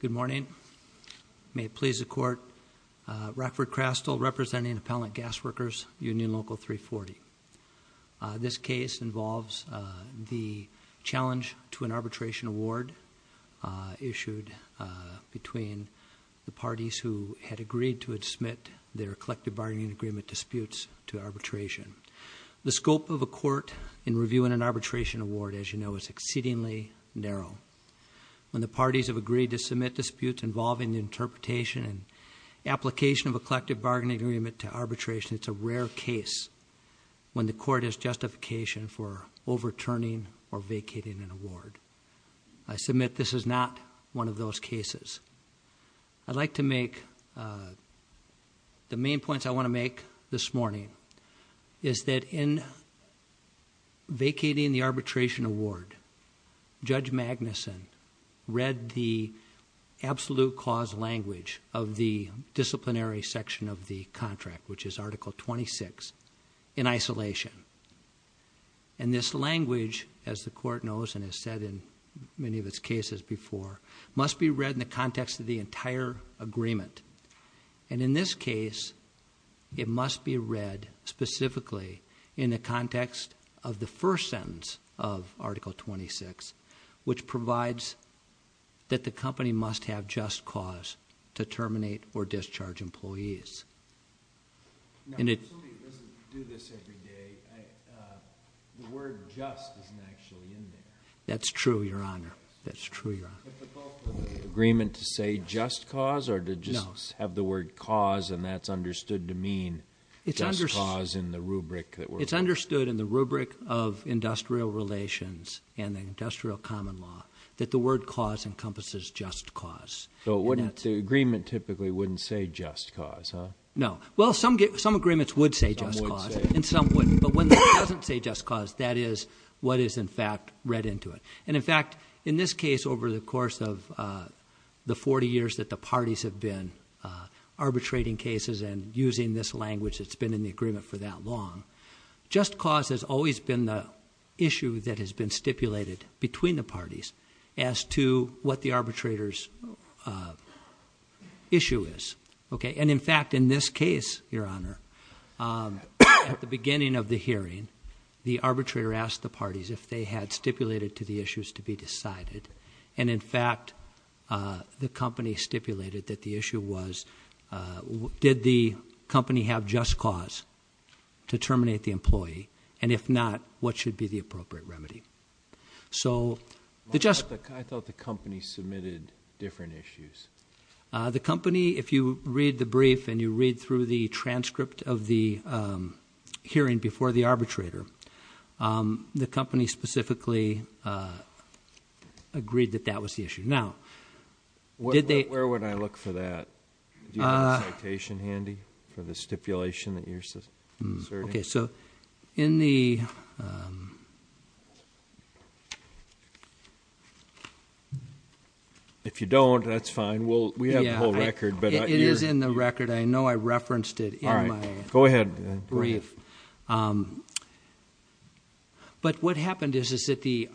Good morning. May it please the court. Rockford Crastle representing Appellant Gas Workers Union Local 340. This case involves the challenge to an arbitration award issued between the parties who had agreed to admit their collective bargaining agreement disputes to arbitration. The scope of a court in reviewing an arbitration award is exceedingly narrow. When the parties have agreed to submit disputes involving the interpretation and application of a collective bargaining agreement to arbitration, it is a rare case when the court has justification for overturning or vacating an award. I submit this is not one of those cases. I'd like to make the main points I want to make this morning is that in vacating the arbitration award, Judge Magnuson read the absolute cause language of the disciplinary section of the contract, which is Article 26, in isolation. And this language, as the entire agreement. And in this case, it must be read specifically in the context of the first sentence of Article 26, which provides that the company must have just cause to terminate or discharge employees. And it doesn't do this every day. The word just isn't actually in there. That's true, Your Honor. That's true, Your Honor. But the both of the agreement to say just cause or to just have the word cause and that's understood to mean just cause in the rubric that we're... It's understood in the rubric of industrial relations and industrial common law that the word cause encompasses just cause. So the agreement typically wouldn't say just cause, huh? No. Well, some agreements would say just cause and some wouldn't. But when it doesn't say just cause, that is what is in fact read into it. And in fact, in this case, over the course of the 40 years that the parties have been arbitrating cases and using this language that's been in the agreement for that long, just cause has always been the issue that the issue is. And in fact, in this case, Your Honor, at the beginning of the hearing, the arbitrator asked the parties if they had stipulated to the issues to be decided. And in fact, the company stipulated that the issue was, did the company have just cause to terminate the employee? And if not, what should be the appropriate remedy? I thought the company submitted different issues. The company, if you read the brief and you read through the transcript of the hearing before the arbitrator, the company specifically agreed that that was the issue. Where would I look for that? Do you have a citation handy for the stipulation that you're looking for? If you don't, that's fine. We have the whole record. It is in the record. I know I referenced it in my brief. But what happened is that the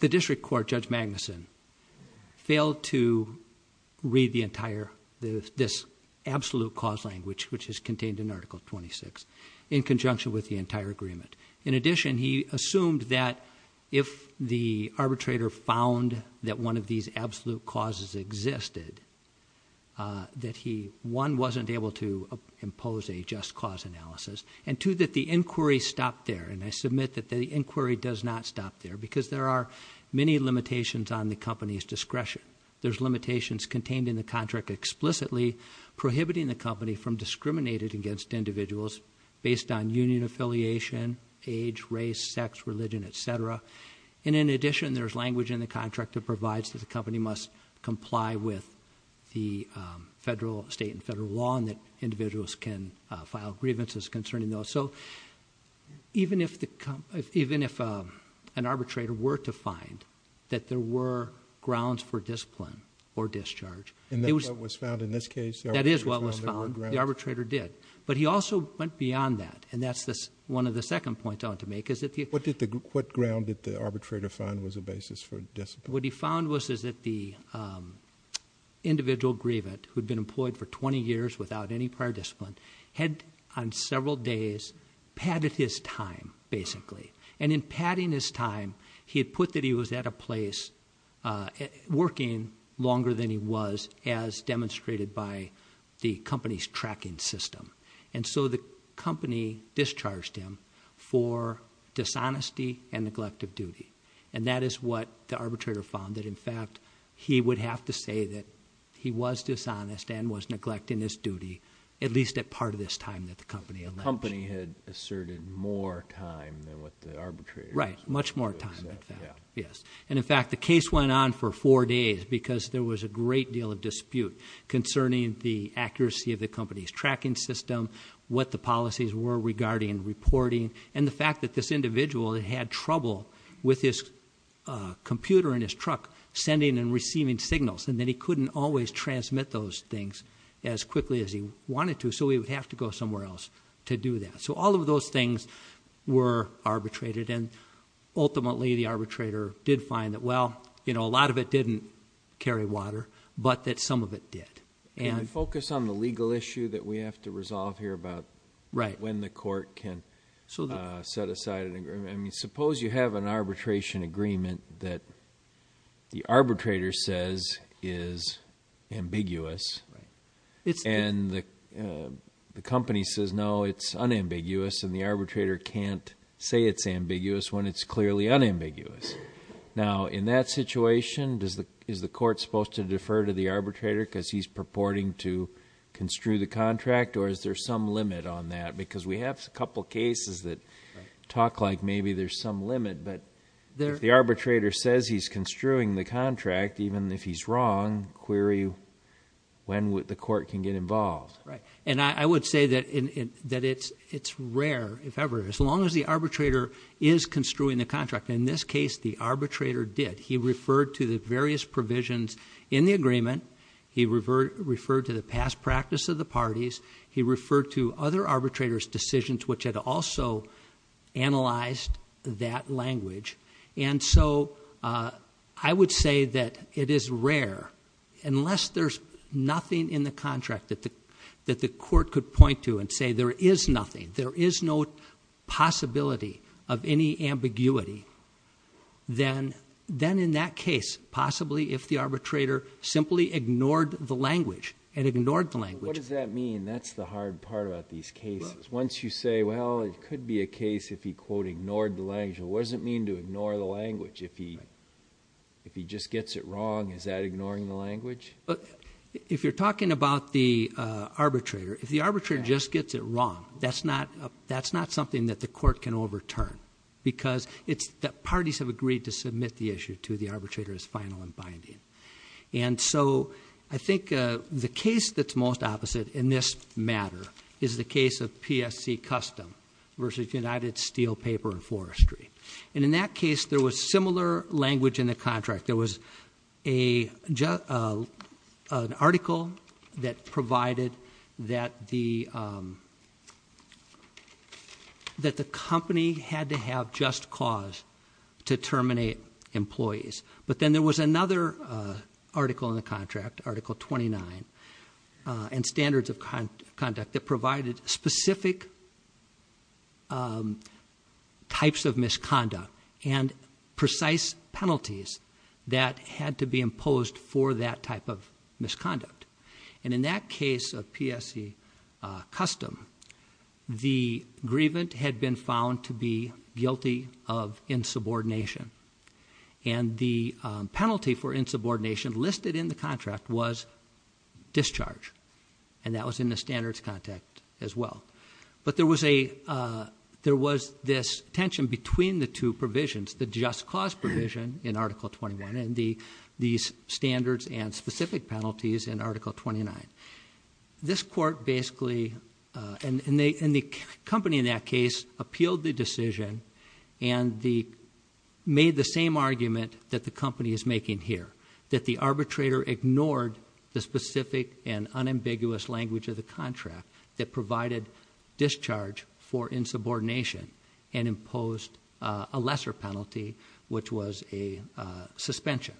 district court, Judge Magnuson, failed to read this absolute cause language, which is contained in Article 26, in conjunction with the entire agreement. In addition, he assumed that if the arbitrator found that one of these absolute causes existed, that he, one, wasn't able to impose a just cause analysis, and two, that the inquiry stopped there. And I submit that the inquiry does not stop there, because there are many limitations on the company's discretion. There's limitations contained in the contract explicitly prohibiting the company from discriminating against individuals based on union affiliation, age, race, sex, religion, etc. And in addition, there's language in the contract that provides that the company must comply with the federal, state, and federal law, and that individuals can file grievances concerning those. So even if an arbitrator were to find that there were grounds for discipline or discharge, that is what was found, the arbitrator did. But he also went beyond that, and that's one of the second points I want to make. What ground did the arbitrator find was a basis for discipline? What he found was that the individual grievant, who had been employed for 20 years without any prior discipline, had, on several days, padded his time, basically. And in padding his time, he had put that he was at a place working longer than he was, as demonstrated by the company's tracking system. And so the company discharged him for dishonesty and neglect of duty. And that is what the arbitrator found, that in fact, he would have to say that he was dishonest and was neglecting his duty, at least at part of this time that the company alleged. The company had asserted more time than what the arbitrator- Right, much more time, in fact. Yes. And in fact, the case went on for four days, because there was a great deal of dispute concerning the accuracy of the company's tracking system, what the policies were regarding reporting, and the fact that this individual had trouble with his computer in his truck sending and receiving signals, and that he couldn't always transmit those things as quickly as he wanted to. So he would have to go somewhere else to do that. So all of those things were arbitrated. And ultimately, the arbitrator did find that, well, a lot of it didn't carry water, but that some of it did. Can we focus on the legal issue that we have to resolve here about when the court can set aside an agreement? Suppose you have an arbitration agreement that the arbitrator says is ambiguous, and the company says, no, it's unambiguous, and the arbitrator can't say it's ambiguous when it's clearly unambiguous. Now, in that situation, is the court supposed to defer to the arbitrator because he's purporting to construe the contract, or is there some limit on that? Because we have a couple cases that talk like maybe there's some limit, but if the arbitrator says he's construing the contract, even if he's wrong, query when the court can get involved. Right. And I would say that it's rare, if ever, as long as the arbitrator is construing the contract. In this case, the arbitrator did. He referred to the various provisions in the agreement. He referred to the past practice of the parties. He referred to other arbitrators' decisions, which had also analyzed that language. And so, I would say that it is rare, unless there's nothing in the contract that the court could point to and say there is nothing, there is no possibility of any ambiguity, then in that case, possibly if the arbitrator simply ignored the language, and ignored the language. What does that mean? That's the hard part about these cases. Once you say, well, it could be a case if he, quote, ignored the language, what does it mean to ignore the language? If he just gets it wrong, is that ignoring the language? If you're talking about the arbitrator, if the arbitrator just gets it wrong, that's not something that the court can overturn, because parties have agreed to submit the issue to the arbitrator as final and binding. And so, I think the case that's most opposite in this matter is the case of PSC Custom versus United Steel Paper and Forestry. And in that case, there was similar language in the contract. There was an article that provided that the company had to have just cause to terminate employees. But then there was another article in the contract, Article 29, and standards of conduct that provided specific types of misconduct and precise penalties that had to be imposed for that type of misconduct. And in that case of PSC Custom, the grievant had been found to be guilty of insubordination. And the penalty for insubordination listed in the contract was discharge. And that was in the standards contact as well. But there was this tension between the two provisions, the just cause provision in Article 21 and these standards and specific penalties in Article 29. This court basically, and the company in that case, appealed the decision and made the same argument that the company is making here, that the arbitrator ignored the specific and unambiguous language of the contract that provided discharge for insubordination and imposed a lesser penalty, which was a suspension.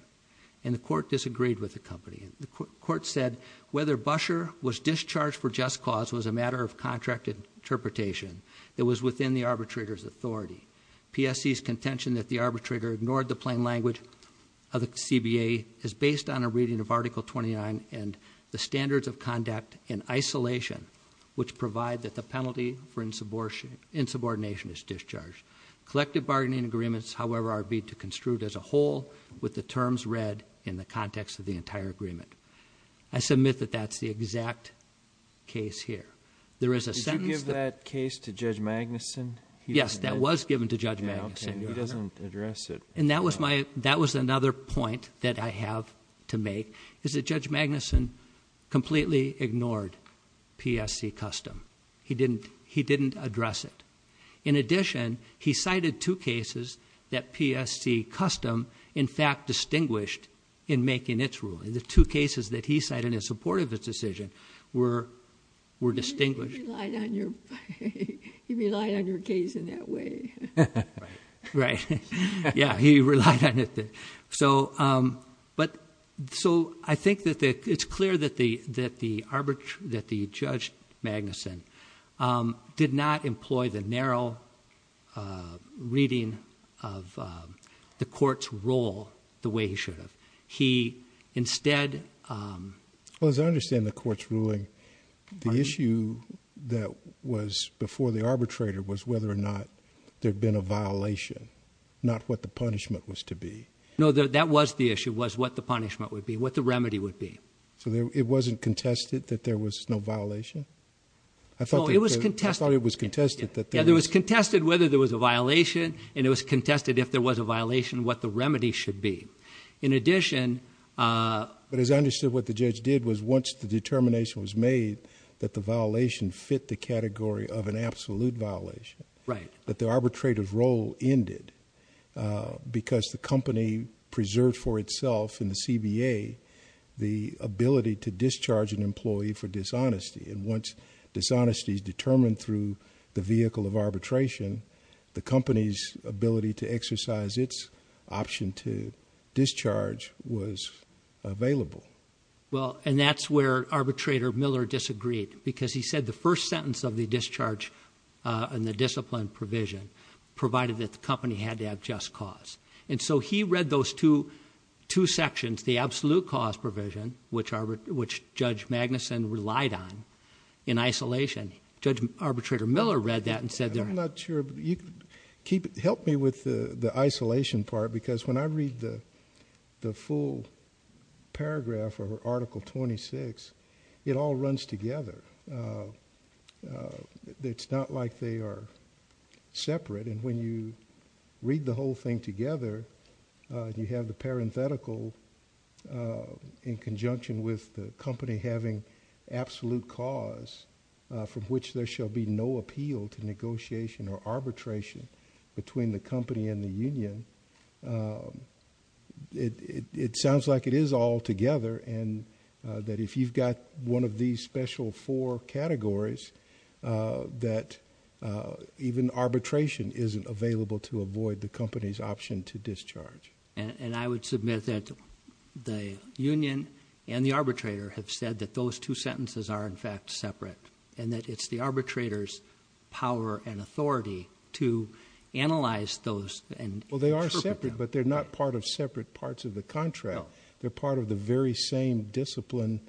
And the court disagreed with the company. The court said whether Busher was discharged for just cause was a matter of contract interpretation. It was within the arbitrator's authority. PSC's contention that the arbitrator ignored the plain language of the CBA is based on our reading of Article 29 and the standards of conduct in isolation, which provide that the penalty for insubordination is discharged. Collective bargaining agreements, however, are to be construed as a whole with the terms read in the context of the entire agreement. I submit that that's the exact case here. There is a sentence- Did you give that case to Judge Magnuson? Yes, that was given to Judge Magnuson, Your Honor. And he doesn't address it. And that was another point that I have to make, is that Judge Magnuson completely ignored PSC Custom. He didn't address it. In addition, he cited two cases that PSC Custom, in fact, distinguished in making its ruling. The two cases that he cited in support of his decision were distinguished- He relied on your case in that way. Right. Yeah, he relied on it. So, I think that it's clear that the judge, Magnuson, did not employ the narrow reading of the court's rule the way he should have. He instead- Well, as I understand the court's ruling, the issue that was before the arbitrator was whether or not there had been a violation, not what the punishment was to be. No, that was the issue, was what the punishment would be, what the remedy would be. So, it wasn't contested that there was no violation? No, it was contested. I thought it was contested that there was- Yeah, there was contested whether there was a violation, and it was contested if there was a violation, what the remedy should be. In addition- But as I understood what the judge did was once the determination was made that the violation fit the category of an absolute violation, that the arbitrator's role ended. Because the company preserved for itself in the CBA the ability to discharge an employee for dishonesty. And once dishonesty is determined through the vehicle of arbitration, the company's ability to exercise its option to discharge was available. Well, and that's where Arbitrator Miller disagreed. Because he said the first sentence of the discharge and the discipline provision provided that the company had to have just cause. And so he read those two sections, the absolute cause provision, which Judge Magnuson relied on, in isolation. Judge Arbitrator Miller read that and said that- I'm not sure, help me with the isolation part. Because when I read the full paragraph of Article 26, it all runs together. It's not like they are separate. And when you read the whole thing together, you have the parenthetical in conjunction with the company having absolute cause from which there shall be no It sounds like it is all together, and that if you've got one of these special four categories, that even arbitration isn't available to avoid the company's option to discharge. And I would submit that the union and the arbitrator have said that those two sentences are in fact separate. And that it's the arbitrator's power and authority to analyze those and interpret them. But they're not part of separate parts of the contract. They're part of the very same discipline,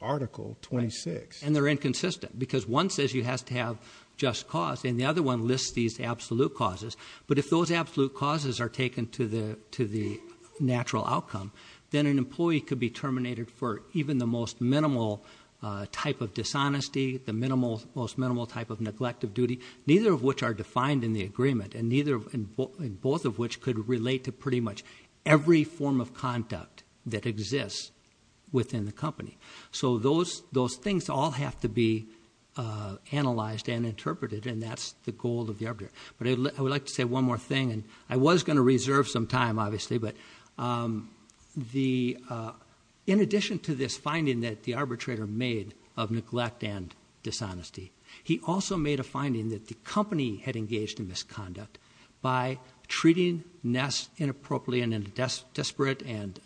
Article 26. And they're inconsistent, because one says you have to have just cause, and the other one lists these absolute causes. But if those absolute causes are taken to the natural outcome, then an employee could be terminated for even the most minimal type of dishonesty, the most minimal type of neglect of duty, neither of which are defined in the agreement. And both of which could relate to pretty much every form of conduct that exists within the company. So those things all have to be analyzed and interpreted, and that's the goal of the arbitrator. But I would like to say one more thing, and I was going to reserve some time, obviously. But in addition to this finding that the arbitrator made of neglect and misconduct by treating Ness inappropriately and in a desperate and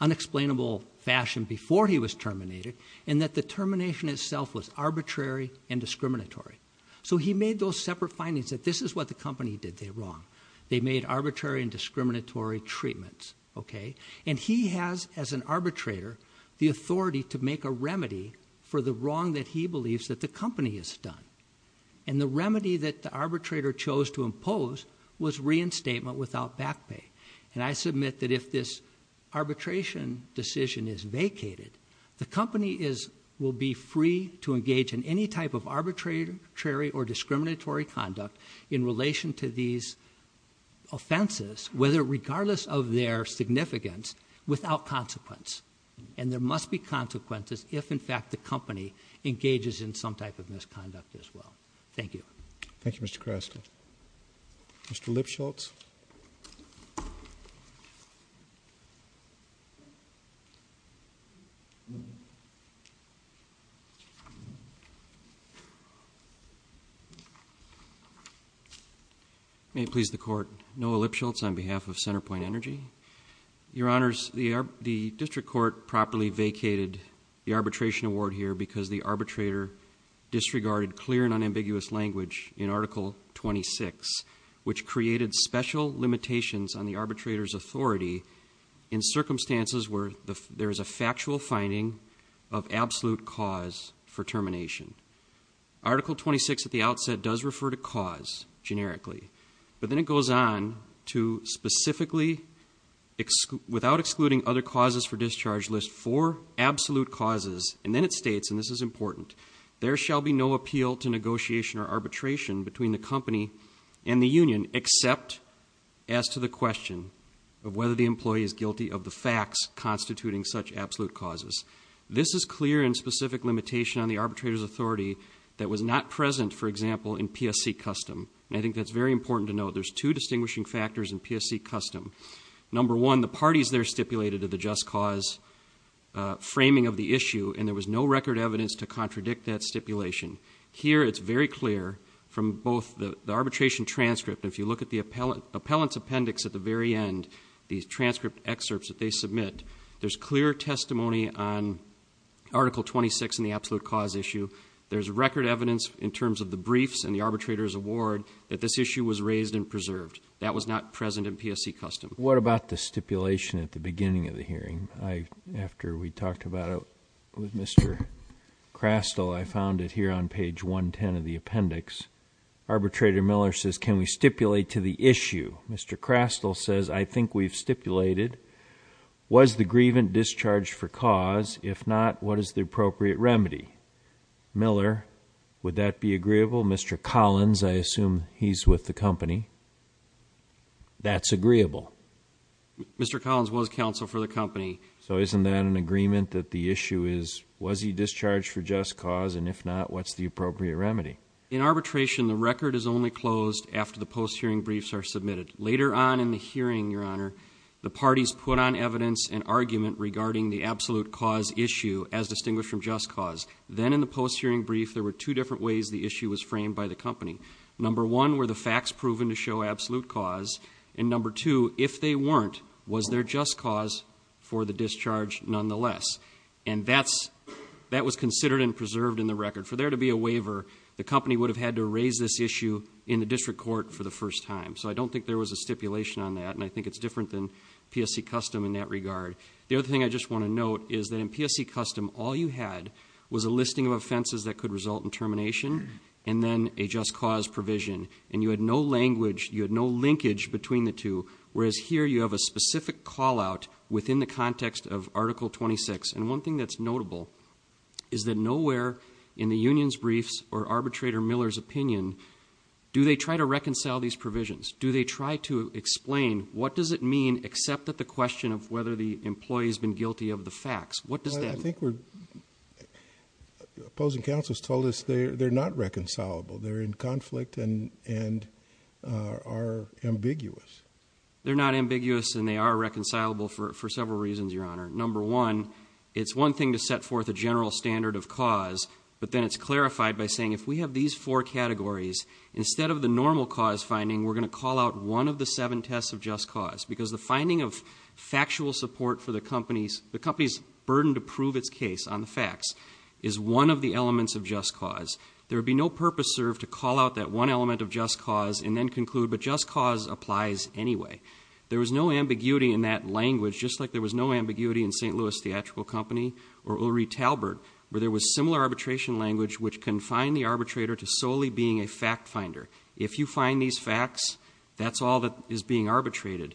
unexplainable fashion before he was terminated. And that the termination itself was arbitrary and discriminatory. So he made those separate findings that this is what the company did wrong. They made arbitrary and discriminatory treatments, okay? And he has, as an arbitrator, the authority to make a remedy for the wrong that he believes that the company has done. And the remedy that the arbitrator chose to impose was reinstatement without back pay. And I submit that if this arbitration decision is vacated, the company will be free to engage in any type of arbitrary or discriminatory conduct in relation to these offenses, whether regardless of their significance, without consequence. And there must be consequences if, in fact, the company engages in some type of misconduct as well. Thank you. Thank you, Mr. Creston. Mr. Lipschultz. May it please the court, Noah Lipschultz on behalf of CenterPoint Energy. Your honors, the district court properly vacated the arbitration award here, because the arbitrator disregarded clear and unambiguous language in Article 26, which created special limitations on the arbitrator's authority in circumstances where there is a factual finding of absolute cause for termination. Article 26 at the outset does refer to cause, generically. But then it goes on to specifically, without excluding other causes for discharge, list four absolute causes. And then it states, and this is important, there shall be no appeal to negotiation or arbitration between the company and the union except as to the question of whether the employee is guilty of the facts constituting such absolute causes. This is clear and specific limitation on the arbitrator's authority that was not present, for example, in PSC custom. I think that's very important to know. There's two distinguishing factors in PSC custom. Number one, the parties there stipulated to the just cause framing of the issue, and there was no record evidence to contradict that stipulation. Here, it's very clear from both the arbitration transcript, and if you look at the appellant's appendix at the very end, these transcript excerpts that they submit, there's clear testimony on Article 26 in the absolute cause issue. There's record evidence in terms of the briefs and the arbitrator's award that this issue was raised and preserved. That was not present in PSC custom. What about the stipulation at the beginning of the hearing? After we talked about it with Mr. Crastle, I found it here on page 110 of the appendix. Arbitrator Miller says, can we stipulate to the issue? Mr. Crastle says, I think we've stipulated. Was the grievant discharged for cause? If not, what is the appropriate remedy? Miller, would that be agreeable? Mr. Collins, I assume he's with the company. That's agreeable. Mr. Collins was counsel for the company. So isn't that an agreement that the issue is, was he discharged for just cause? And if not, what's the appropriate remedy? In arbitration, the record is only closed after the post-hearing briefs are submitted. Later on in the hearing, Your Honor, the parties put on evidence and argument regarding the absolute cause issue as distinguished from just cause. Then in the post-hearing brief, there were two different ways the issue was framed by the company. Number one, were the facts proven to show absolute cause? And number two, if they weren't, was there just cause for the discharge nonetheless? And that was considered and preserved in the record. For there to be a waiver, the company would have had to raise this issue in the district court for the first time. So I don't think there was a stipulation on that. And I think it's different than PSC Custom in that regard. The other thing I just want to note is that in PSC Custom, all you had was a listing of offenses that could result in termination. And then a just cause provision. And you had no language, you had no linkage between the two. Whereas here, you have a specific call out within the context of Article 26. And one thing that's notable is that nowhere in the union's briefs or Do they try to explain, what does it mean except that the question of whether the employee's been guilty of the facts? What does that mean? I think we're, opposing counsel's told us they're not reconcilable. They're in conflict and are ambiguous. They're not ambiguous and they are reconcilable for several reasons, your honor. Number one, it's one thing to set forth a general standard of cause. But then it's clarified by saying, if we have these four categories, instead of the normal cause finding, we're going to call out one of the seven tests of just cause, because the finding of factual support for the company's burden to prove its case on the facts is one of the elements of just cause. There would be no purpose served to call out that one element of just cause and then conclude, but just cause applies anyway. There was no ambiguity in that language, just like there was no ambiguity in St. Louis Theatrical Company or Ulrich Talbert, where there was similar arbitration language which confined the arbitrator to solely being a fact finder. If you find these facts, that's all that is being arbitrated.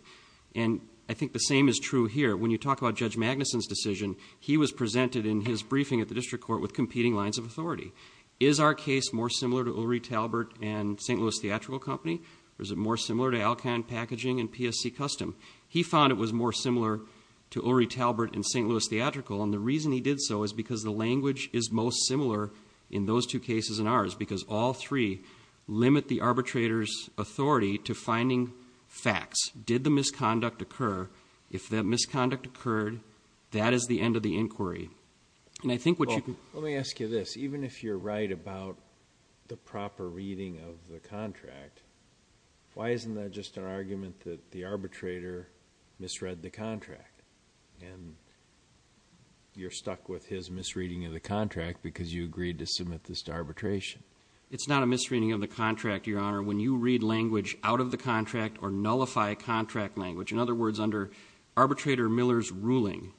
And I think the same is true here. When you talk about Judge Magnuson's decision, he was presented in his briefing at the district court with competing lines of authority. Is our case more similar to Ulrich Talbert and St. Louis Theatrical Company? Or is it more similar to Alcon Packaging and PSC Custom? He found it was more similar to Ulrich Talbert and St. Louis Theatrical. And the reason he did so is because the language is most similar in those two cases and all three limit the arbitrator's authority to finding facts. Did the misconduct occur? If that misconduct occurred, that is the end of the inquiry. And I think what you can- Let me ask you this. Even if you're right about the proper reading of the contract, why isn't that just an argument that the arbitrator misread the contract? And you're stuck with his misreading of the contract because you agreed to submit this to arbitration. It's not a misreading of the contract, your honor. When you read language out of the contract or nullify contract language, in other words, under arbitrator Miller's ruling,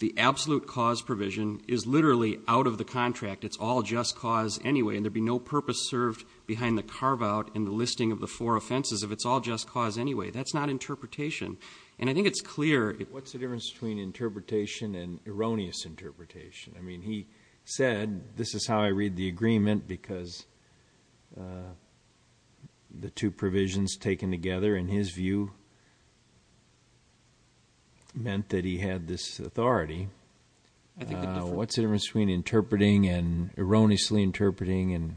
the absolute cause provision is literally out of the contract. It's all just cause anyway, and there'd be no purpose served behind the carve out and the listing of the four offenses if it's all just cause anyway. That's not interpretation. And I think it's clear- What's the difference between interpretation and erroneous interpretation? I mean, he said, this is how I read the agreement because the two provisions taken together, in his view, meant that he had this authority. What's the difference between interpreting and erroneously interpreting and-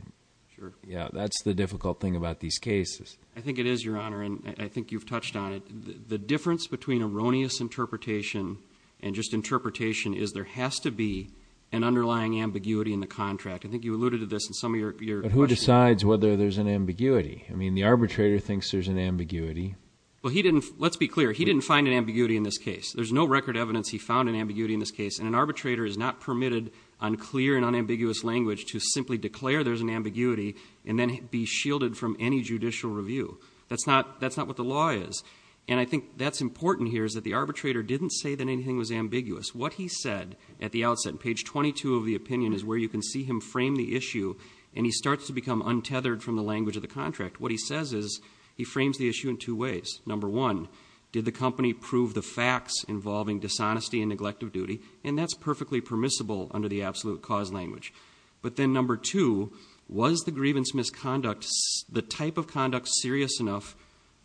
Sure. Yeah, that's the difficult thing about these cases. I think it is, your honor, and I think you've touched on it. The difference between erroneous interpretation and just interpretation is there has to be an underlying ambiguity in the contract. I think you alluded to this in some of your- But who decides whether there's an ambiguity? I mean, the arbitrator thinks there's an ambiguity. Well, he didn't, let's be clear, he didn't find an ambiguity in this case. There's no record evidence he found an ambiguity in this case, and an arbitrator is not permitted on clear and unambiguous language to simply declare there's an ambiguity and then be shielded from any judicial review. That's not what the law is. And I think that's important here is that the arbitrator didn't say that anything was ambiguous. What he said at the outset, page 22 of the opinion is where you can see him frame the issue, and he starts to become untethered from the language of the contract. What he says is, he frames the issue in two ways. Number one, did the company prove the facts involving dishonesty and neglect of duty? And that's perfectly permissible under the absolute cause language. But then number two, was the grievance misconduct, the type of conduct serious enough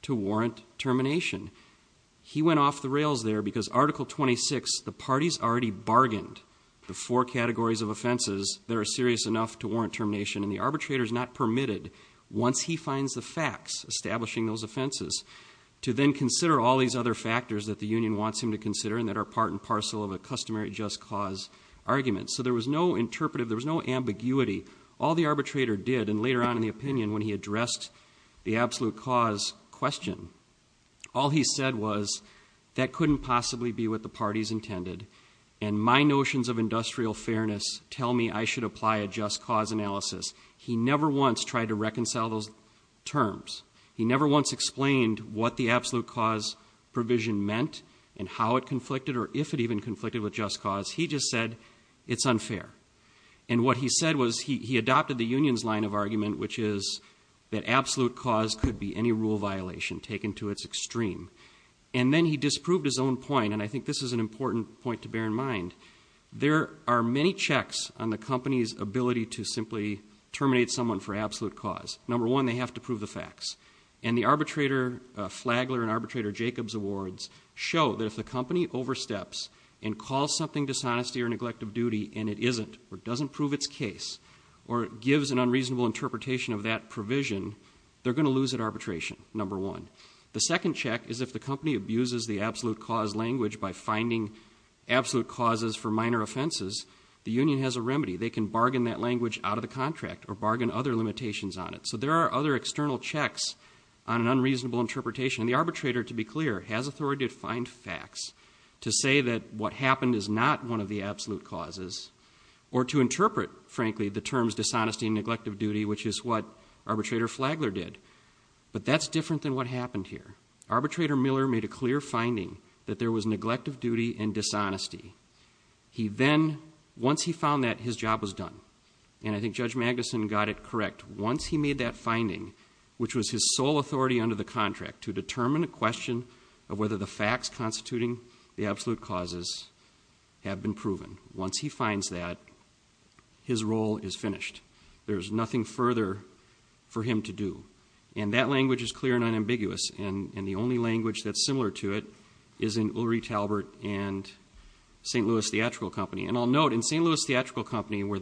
to warrant termination? He went off the rails there because Article 26, the parties already bargained the four categories of offenses that are serious enough to warrant termination. And the arbitrator's not permitted, once he finds the facts establishing those offenses, to then consider all these other factors that the union wants him to consider and that are part and parcel of a customary just cause argument. So there was no interpretive, there was no ambiguity. All the arbitrator did, and later on in the opinion when he addressed the absolute cause question, all he said was, that couldn't possibly be what the parties intended. And my notions of industrial fairness tell me I should apply a just cause analysis. He never once tried to reconcile those terms. He never once explained what the absolute cause provision meant, and how it conflicted, or if it even conflicted with just cause. He just said, it's unfair. And what he said was, he adopted the union's line of argument, which is that absolute cause could be any rule violation taken to its extreme. And then he disproved his own point, and I think this is an important point to bear in mind. There are many checks on the company's ability to simply terminate someone for absolute cause. And the arbitrator Flagler and Arbitrator Jacobs awards show that if the company oversteps and calls something dishonesty or neglect of duty and it isn't, or doesn't prove its case, or gives an unreasonable interpretation of that provision, they're going to lose at arbitration, number one. The second check is if the company abuses the absolute cause language by finding absolute causes for minor offenses. The union has a remedy. They can bargain that language out of the contract, or bargain other limitations on it. So there are other external checks on an unreasonable interpretation. And the arbitrator, to be clear, has authority to find facts to say that what happened is not one of the absolute causes. Or to interpret, frankly, the terms dishonesty and neglect of duty, which is what Arbitrator Flagler did. But that's different than what happened here. Arbitrator Miller made a clear finding that there was neglect of duty and dishonesty. He then, once he found that, his job was done. And I think Judge Magnuson got it correct. Once he made that finding, which was his sole authority under the contract to determine a question of whether the facts constituting the absolute causes have been proven. Once he finds that, his role is finished. There's nothing further for him to do. And that language is clear and unambiguous. And the only language that's similar to it is in Ulrich Talbert and St. Louis Theatrical Company. And I'll note, in St. Louis Theatrical Company, where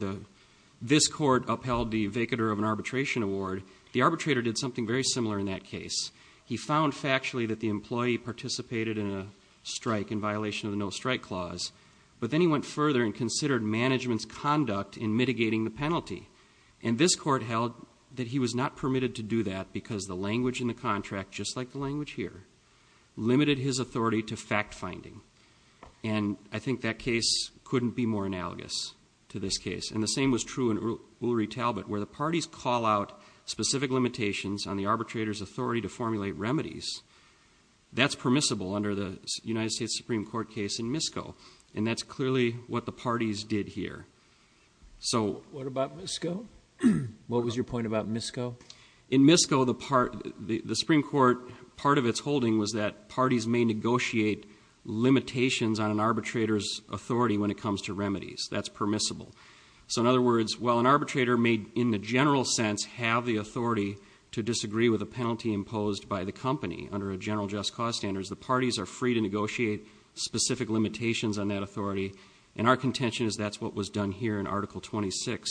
this court upheld the vacatur of an arbitration award, the arbitrator did something very similar in that case. He found factually that the employee participated in a strike in violation of the no strike clause. But then he went further and considered management's conduct in mitigating the penalty. And this court held that he was not permitted to do that because the language in the contract, just like the language here, limited his authority to fact finding. And I think that case couldn't be more analogous to this case. And the same was true in Ulrich Talbert, where the parties call out specific limitations on the arbitrator's authority to formulate remedies. That's permissible under the United States Supreme Court case in MISCO. And that's clearly what the parties did here. So- What about MISCO? What was your point about MISCO? In MISCO, the Supreme Court, part of its holding was that parties may negotiate limitations on an arbitrator's authority when it comes to remedies, that's permissible. So in other words, while an arbitrator may, in the general sense, have the authority to disagree with a penalty imposed by the company, under a general just cause standards, the parties are free to negotiate specific limitations on that authority. And our contention is that's what was done here in Article 26,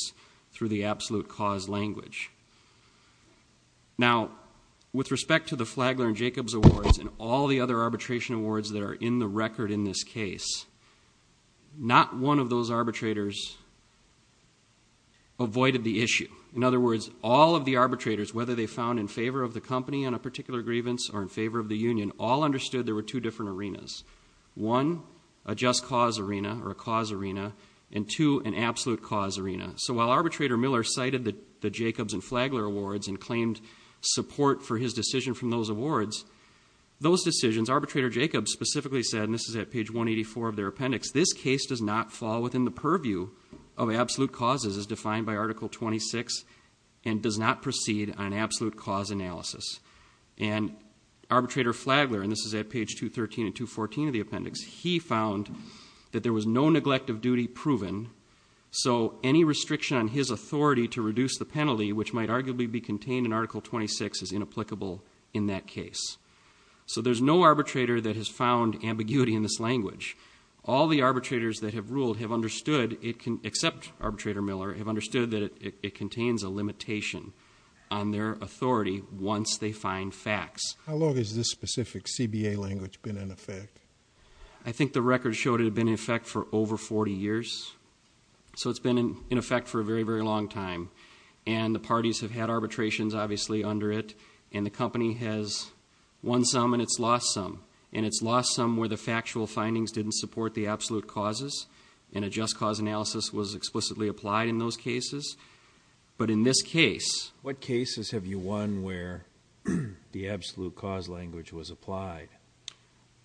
through the absolute cause language. Now, with respect to the Flagler and Jacobs Awards and all the other arbitration awards that are in the record in this case, not one of those arbitrators avoided the issue. In other words, all of the arbitrators, whether they found in favor of the company on a particular grievance or in favor of the union, all understood there were two different arenas. One, a just cause arena or a cause arena, and two, an absolute cause arena. So while Arbitrator Miller cited the Jacobs and Flagler awards and claimed support for his decision from those awards, those decisions, Arbitrator Jacobs specifically said, and this is at page 184 of their appendix, this case does not fall within the purview of absolute causes as defined by Article 26 and does not proceed on absolute cause analysis. And Arbitrator Flagler, and this is at page 213 and 214 of the appendix, he found that there was no neglect of duty proven. So any restriction on his authority to reduce the penalty, which might arguably be contained in Article 26, is inapplicable in that case. So there's no arbitrator that has found ambiguity in this language. All the arbitrators that have ruled have understood, except Arbitrator Miller, have understood that it contains a limitation on their authority once they find facts. How long has this specific CBA language been in effect? I think the record showed it had been in effect for over 40 years. So it's been in effect for a very, very long time. And the parties have had arbitrations, obviously, under it. And the company has won some and it's lost some. And it's lost some where the factual findings didn't support the absolute causes. And a just cause analysis was explicitly applied in those cases. But in this case. What cases have you won where the absolute cause language was applied?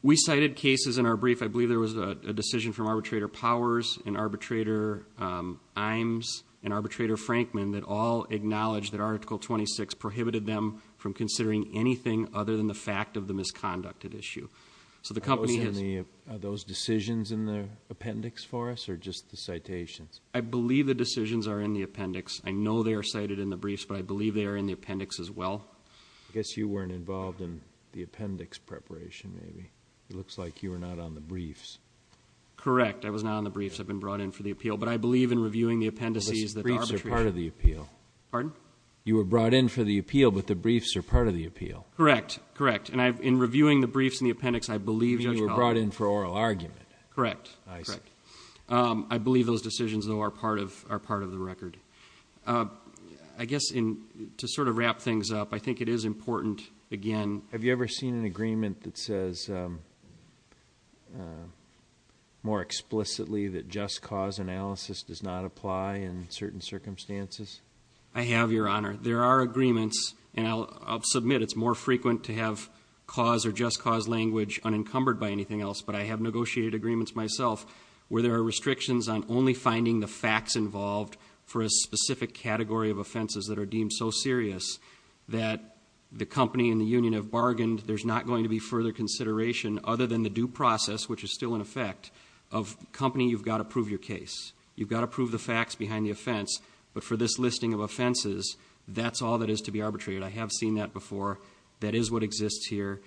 We cited cases in our brief. I believe there was a decision from Arbitrator Powers and Arbitrator Imes and Arbitrator Frankman that all acknowledged that Article 26 prohibited them from considering anything other than the fact of the misconducted issue. So the company has- Are those decisions in the appendix for us, or just the citations? I believe the decisions are in the appendix. I know they are cited in the briefs, but I believe they are in the appendix as well. I guess you weren't involved in the appendix preparation, maybe. It looks like you were not on the briefs. Correct, I was not on the briefs. I've been brought in for the appeal. But I believe in reviewing the appendices that the arbitrator- Well, the briefs are part of the appeal. Pardon? You were brought in for the appeal, but the briefs are part of the appeal. Correct, correct. And in reviewing the briefs and the appendix, I believe Judge- You were brought in for oral argument. Correct. I see. I believe those decisions, though, are part of the record. I guess, to sort of wrap things up, I think it is important, again- Have you ever seen an agreement that says more explicitly that just cause analysis does not apply in certain circumstances? I have, Your Honor. There are agreements, and I'll submit it's more frequent to have cause or just cause language unencumbered by anything else. But I have negotiated agreements myself where there are restrictions on only finding the facts involved for a specific category of offenses that are deemed so serious that the company and the union have bargained there's not going to be further consideration other than the due process, which is still in effect, of company, you've got to prove your case. You've got to prove the facts behind the offense, but for this listing of offenses, that's all that is to be arbitrated. I have seen that before. That is what exists here.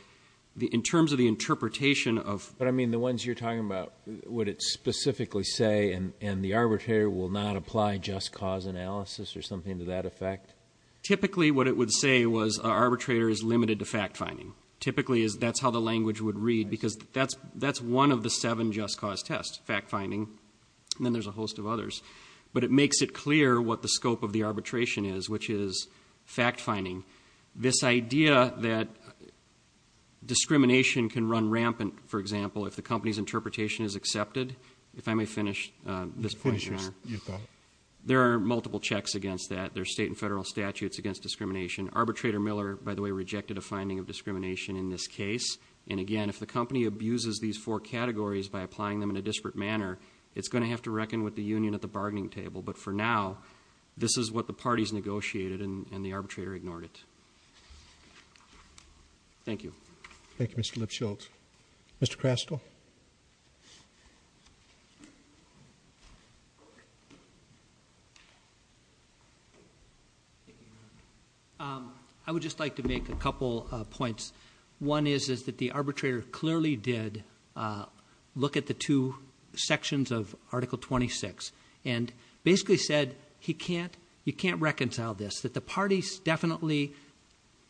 In terms of the interpretation of- But I mean, the ones you're talking about, would it specifically say, and the arbitrator will not apply just cause analysis or something to that effect? Typically, what it would say was, our arbitrator is limited to fact finding. Typically, that's how the language would read, because that's one of the seven just cause tests, fact finding. And then there's a host of others. But it makes it clear what the scope of the arbitration is, which is fact finding. This idea that discrimination can run rampant, for example, if the company's interpretation is accepted. If I may finish this point, Your Honor. You go ahead. There are multiple checks against that. There's state and federal statutes against discrimination. Arbitrator Miller, by the way, rejected a finding of discrimination in this case. And again, if the company abuses these four categories by applying them in a disparate manner, it's going to have to reckon with the union at the bargaining table. But for now, this is what the parties negotiated, and the arbitrator ignored it. Thank you. Thank you, Mr. Lipschultz. Mr. Crastle. I would just like to make a couple of points. One is that the arbitrator clearly did look at the two sections of Article 26. And basically said, you can't reconcile this, that the parties definitely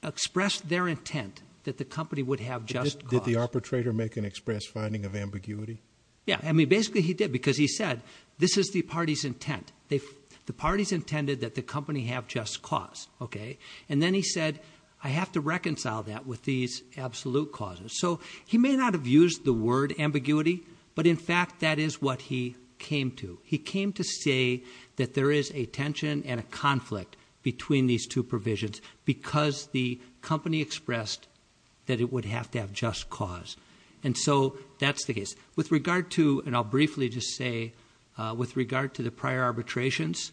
expressed their intent that the company would have just cause. Did the arbitrator make an express finding of ambiguity? Yeah, I mean, basically he did, because he said, this is the party's intent. The party's intended that the company have just cause, okay? And then he said, I have to reconcile that with these absolute causes. So he may not have used the word ambiguity, but in fact, that is what he came to. He came to say that there is a tension and a conflict between these two provisions, because the company expressed that it would have to have just cause. And so, that's the case. With regard to, and I'll briefly just say, with regard to the prior arbitrations,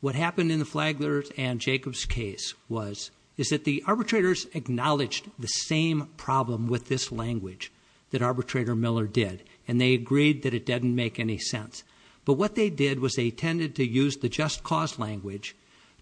what happened in the Flagler's and Jacob's case was, is that the arbitrators acknowledged the same problem with this language that Arbitrator Miller did. And they agreed that it didn't make any sense. But what they did was they tended to use the just cause language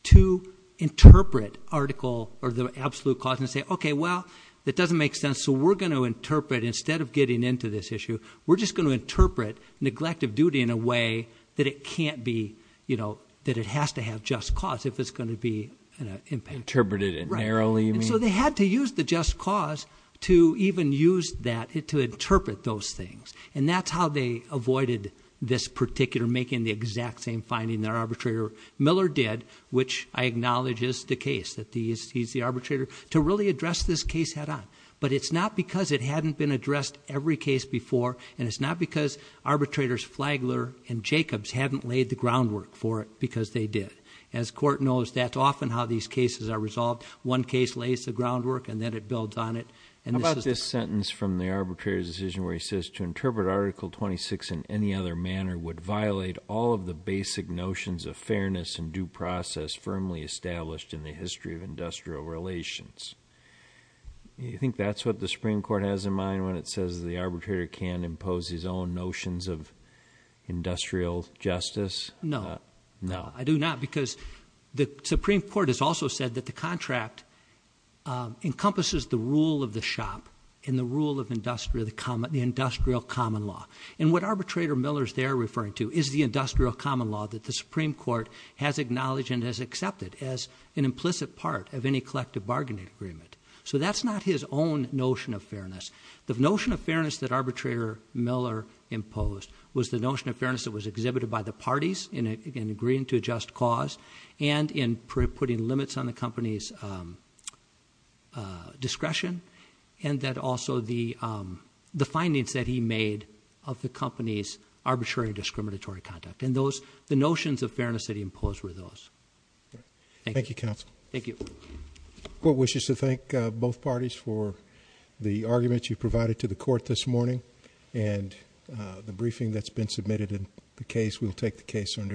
to interpret article, or the absolute cause, and say, okay, well, that doesn't make sense. So we're going to interpret, instead of getting into this issue, we're just going to interpret neglect of duty in a way that it can't be, that it has to have just cause if it's going to be an impact. Interpreted it narrowly, you mean? And so they had to use the just cause to even use that to interpret those things. And that's how they avoided this particular, making the exact same finding that Arbitrator Miller did, which I acknowledge is the case, that he's the arbitrator, to really address this case head on. But it's not because it hadn't been addressed every case before, and it's not because Arbitrators Flagler and Jacobs hadn't laid the groundwork for it, because they did. As court knows, that's often how these cases are resolved. One case lays the groundwork, and then it builds on it. And this is the- How about this sentence from the arbitrator's decision where he says, to interpret Article 26 in any other manner would violate all of the basic notions of fairness and due process firmly established in the history of industrial relations. Do you think that's what the Supreme Court has in mind when it says the arbitrator can impose his own notions of industrial justice? No. No. I do not, because the Supreme Court has also said that the contract encompasses the rule of the shop and the rule of the industrial common law. And what Arbitrator Miller's there referring to is the industrial common law that the Supreme Court has acknowledged and has accepted as an implicit part of any collective bargaining agreement. So that's not his own notion of fairness. The notion of fairness that Arbitrator Miller imposed was the notion of fairness that was exhibited by the parties in agreeing to a just cause. And in putting limits on the company's discretion. And that also the findings that he made of the company's arbitrary discriminatory conduct. And those, the notions of fairness that he imposed were those. Thank you. Thank you, Counsel. Thank you. Court wishes to thank both parties for the argument you provided to the court this morning. And the briefing that's been submitted in the case, we'll take the case under advisement.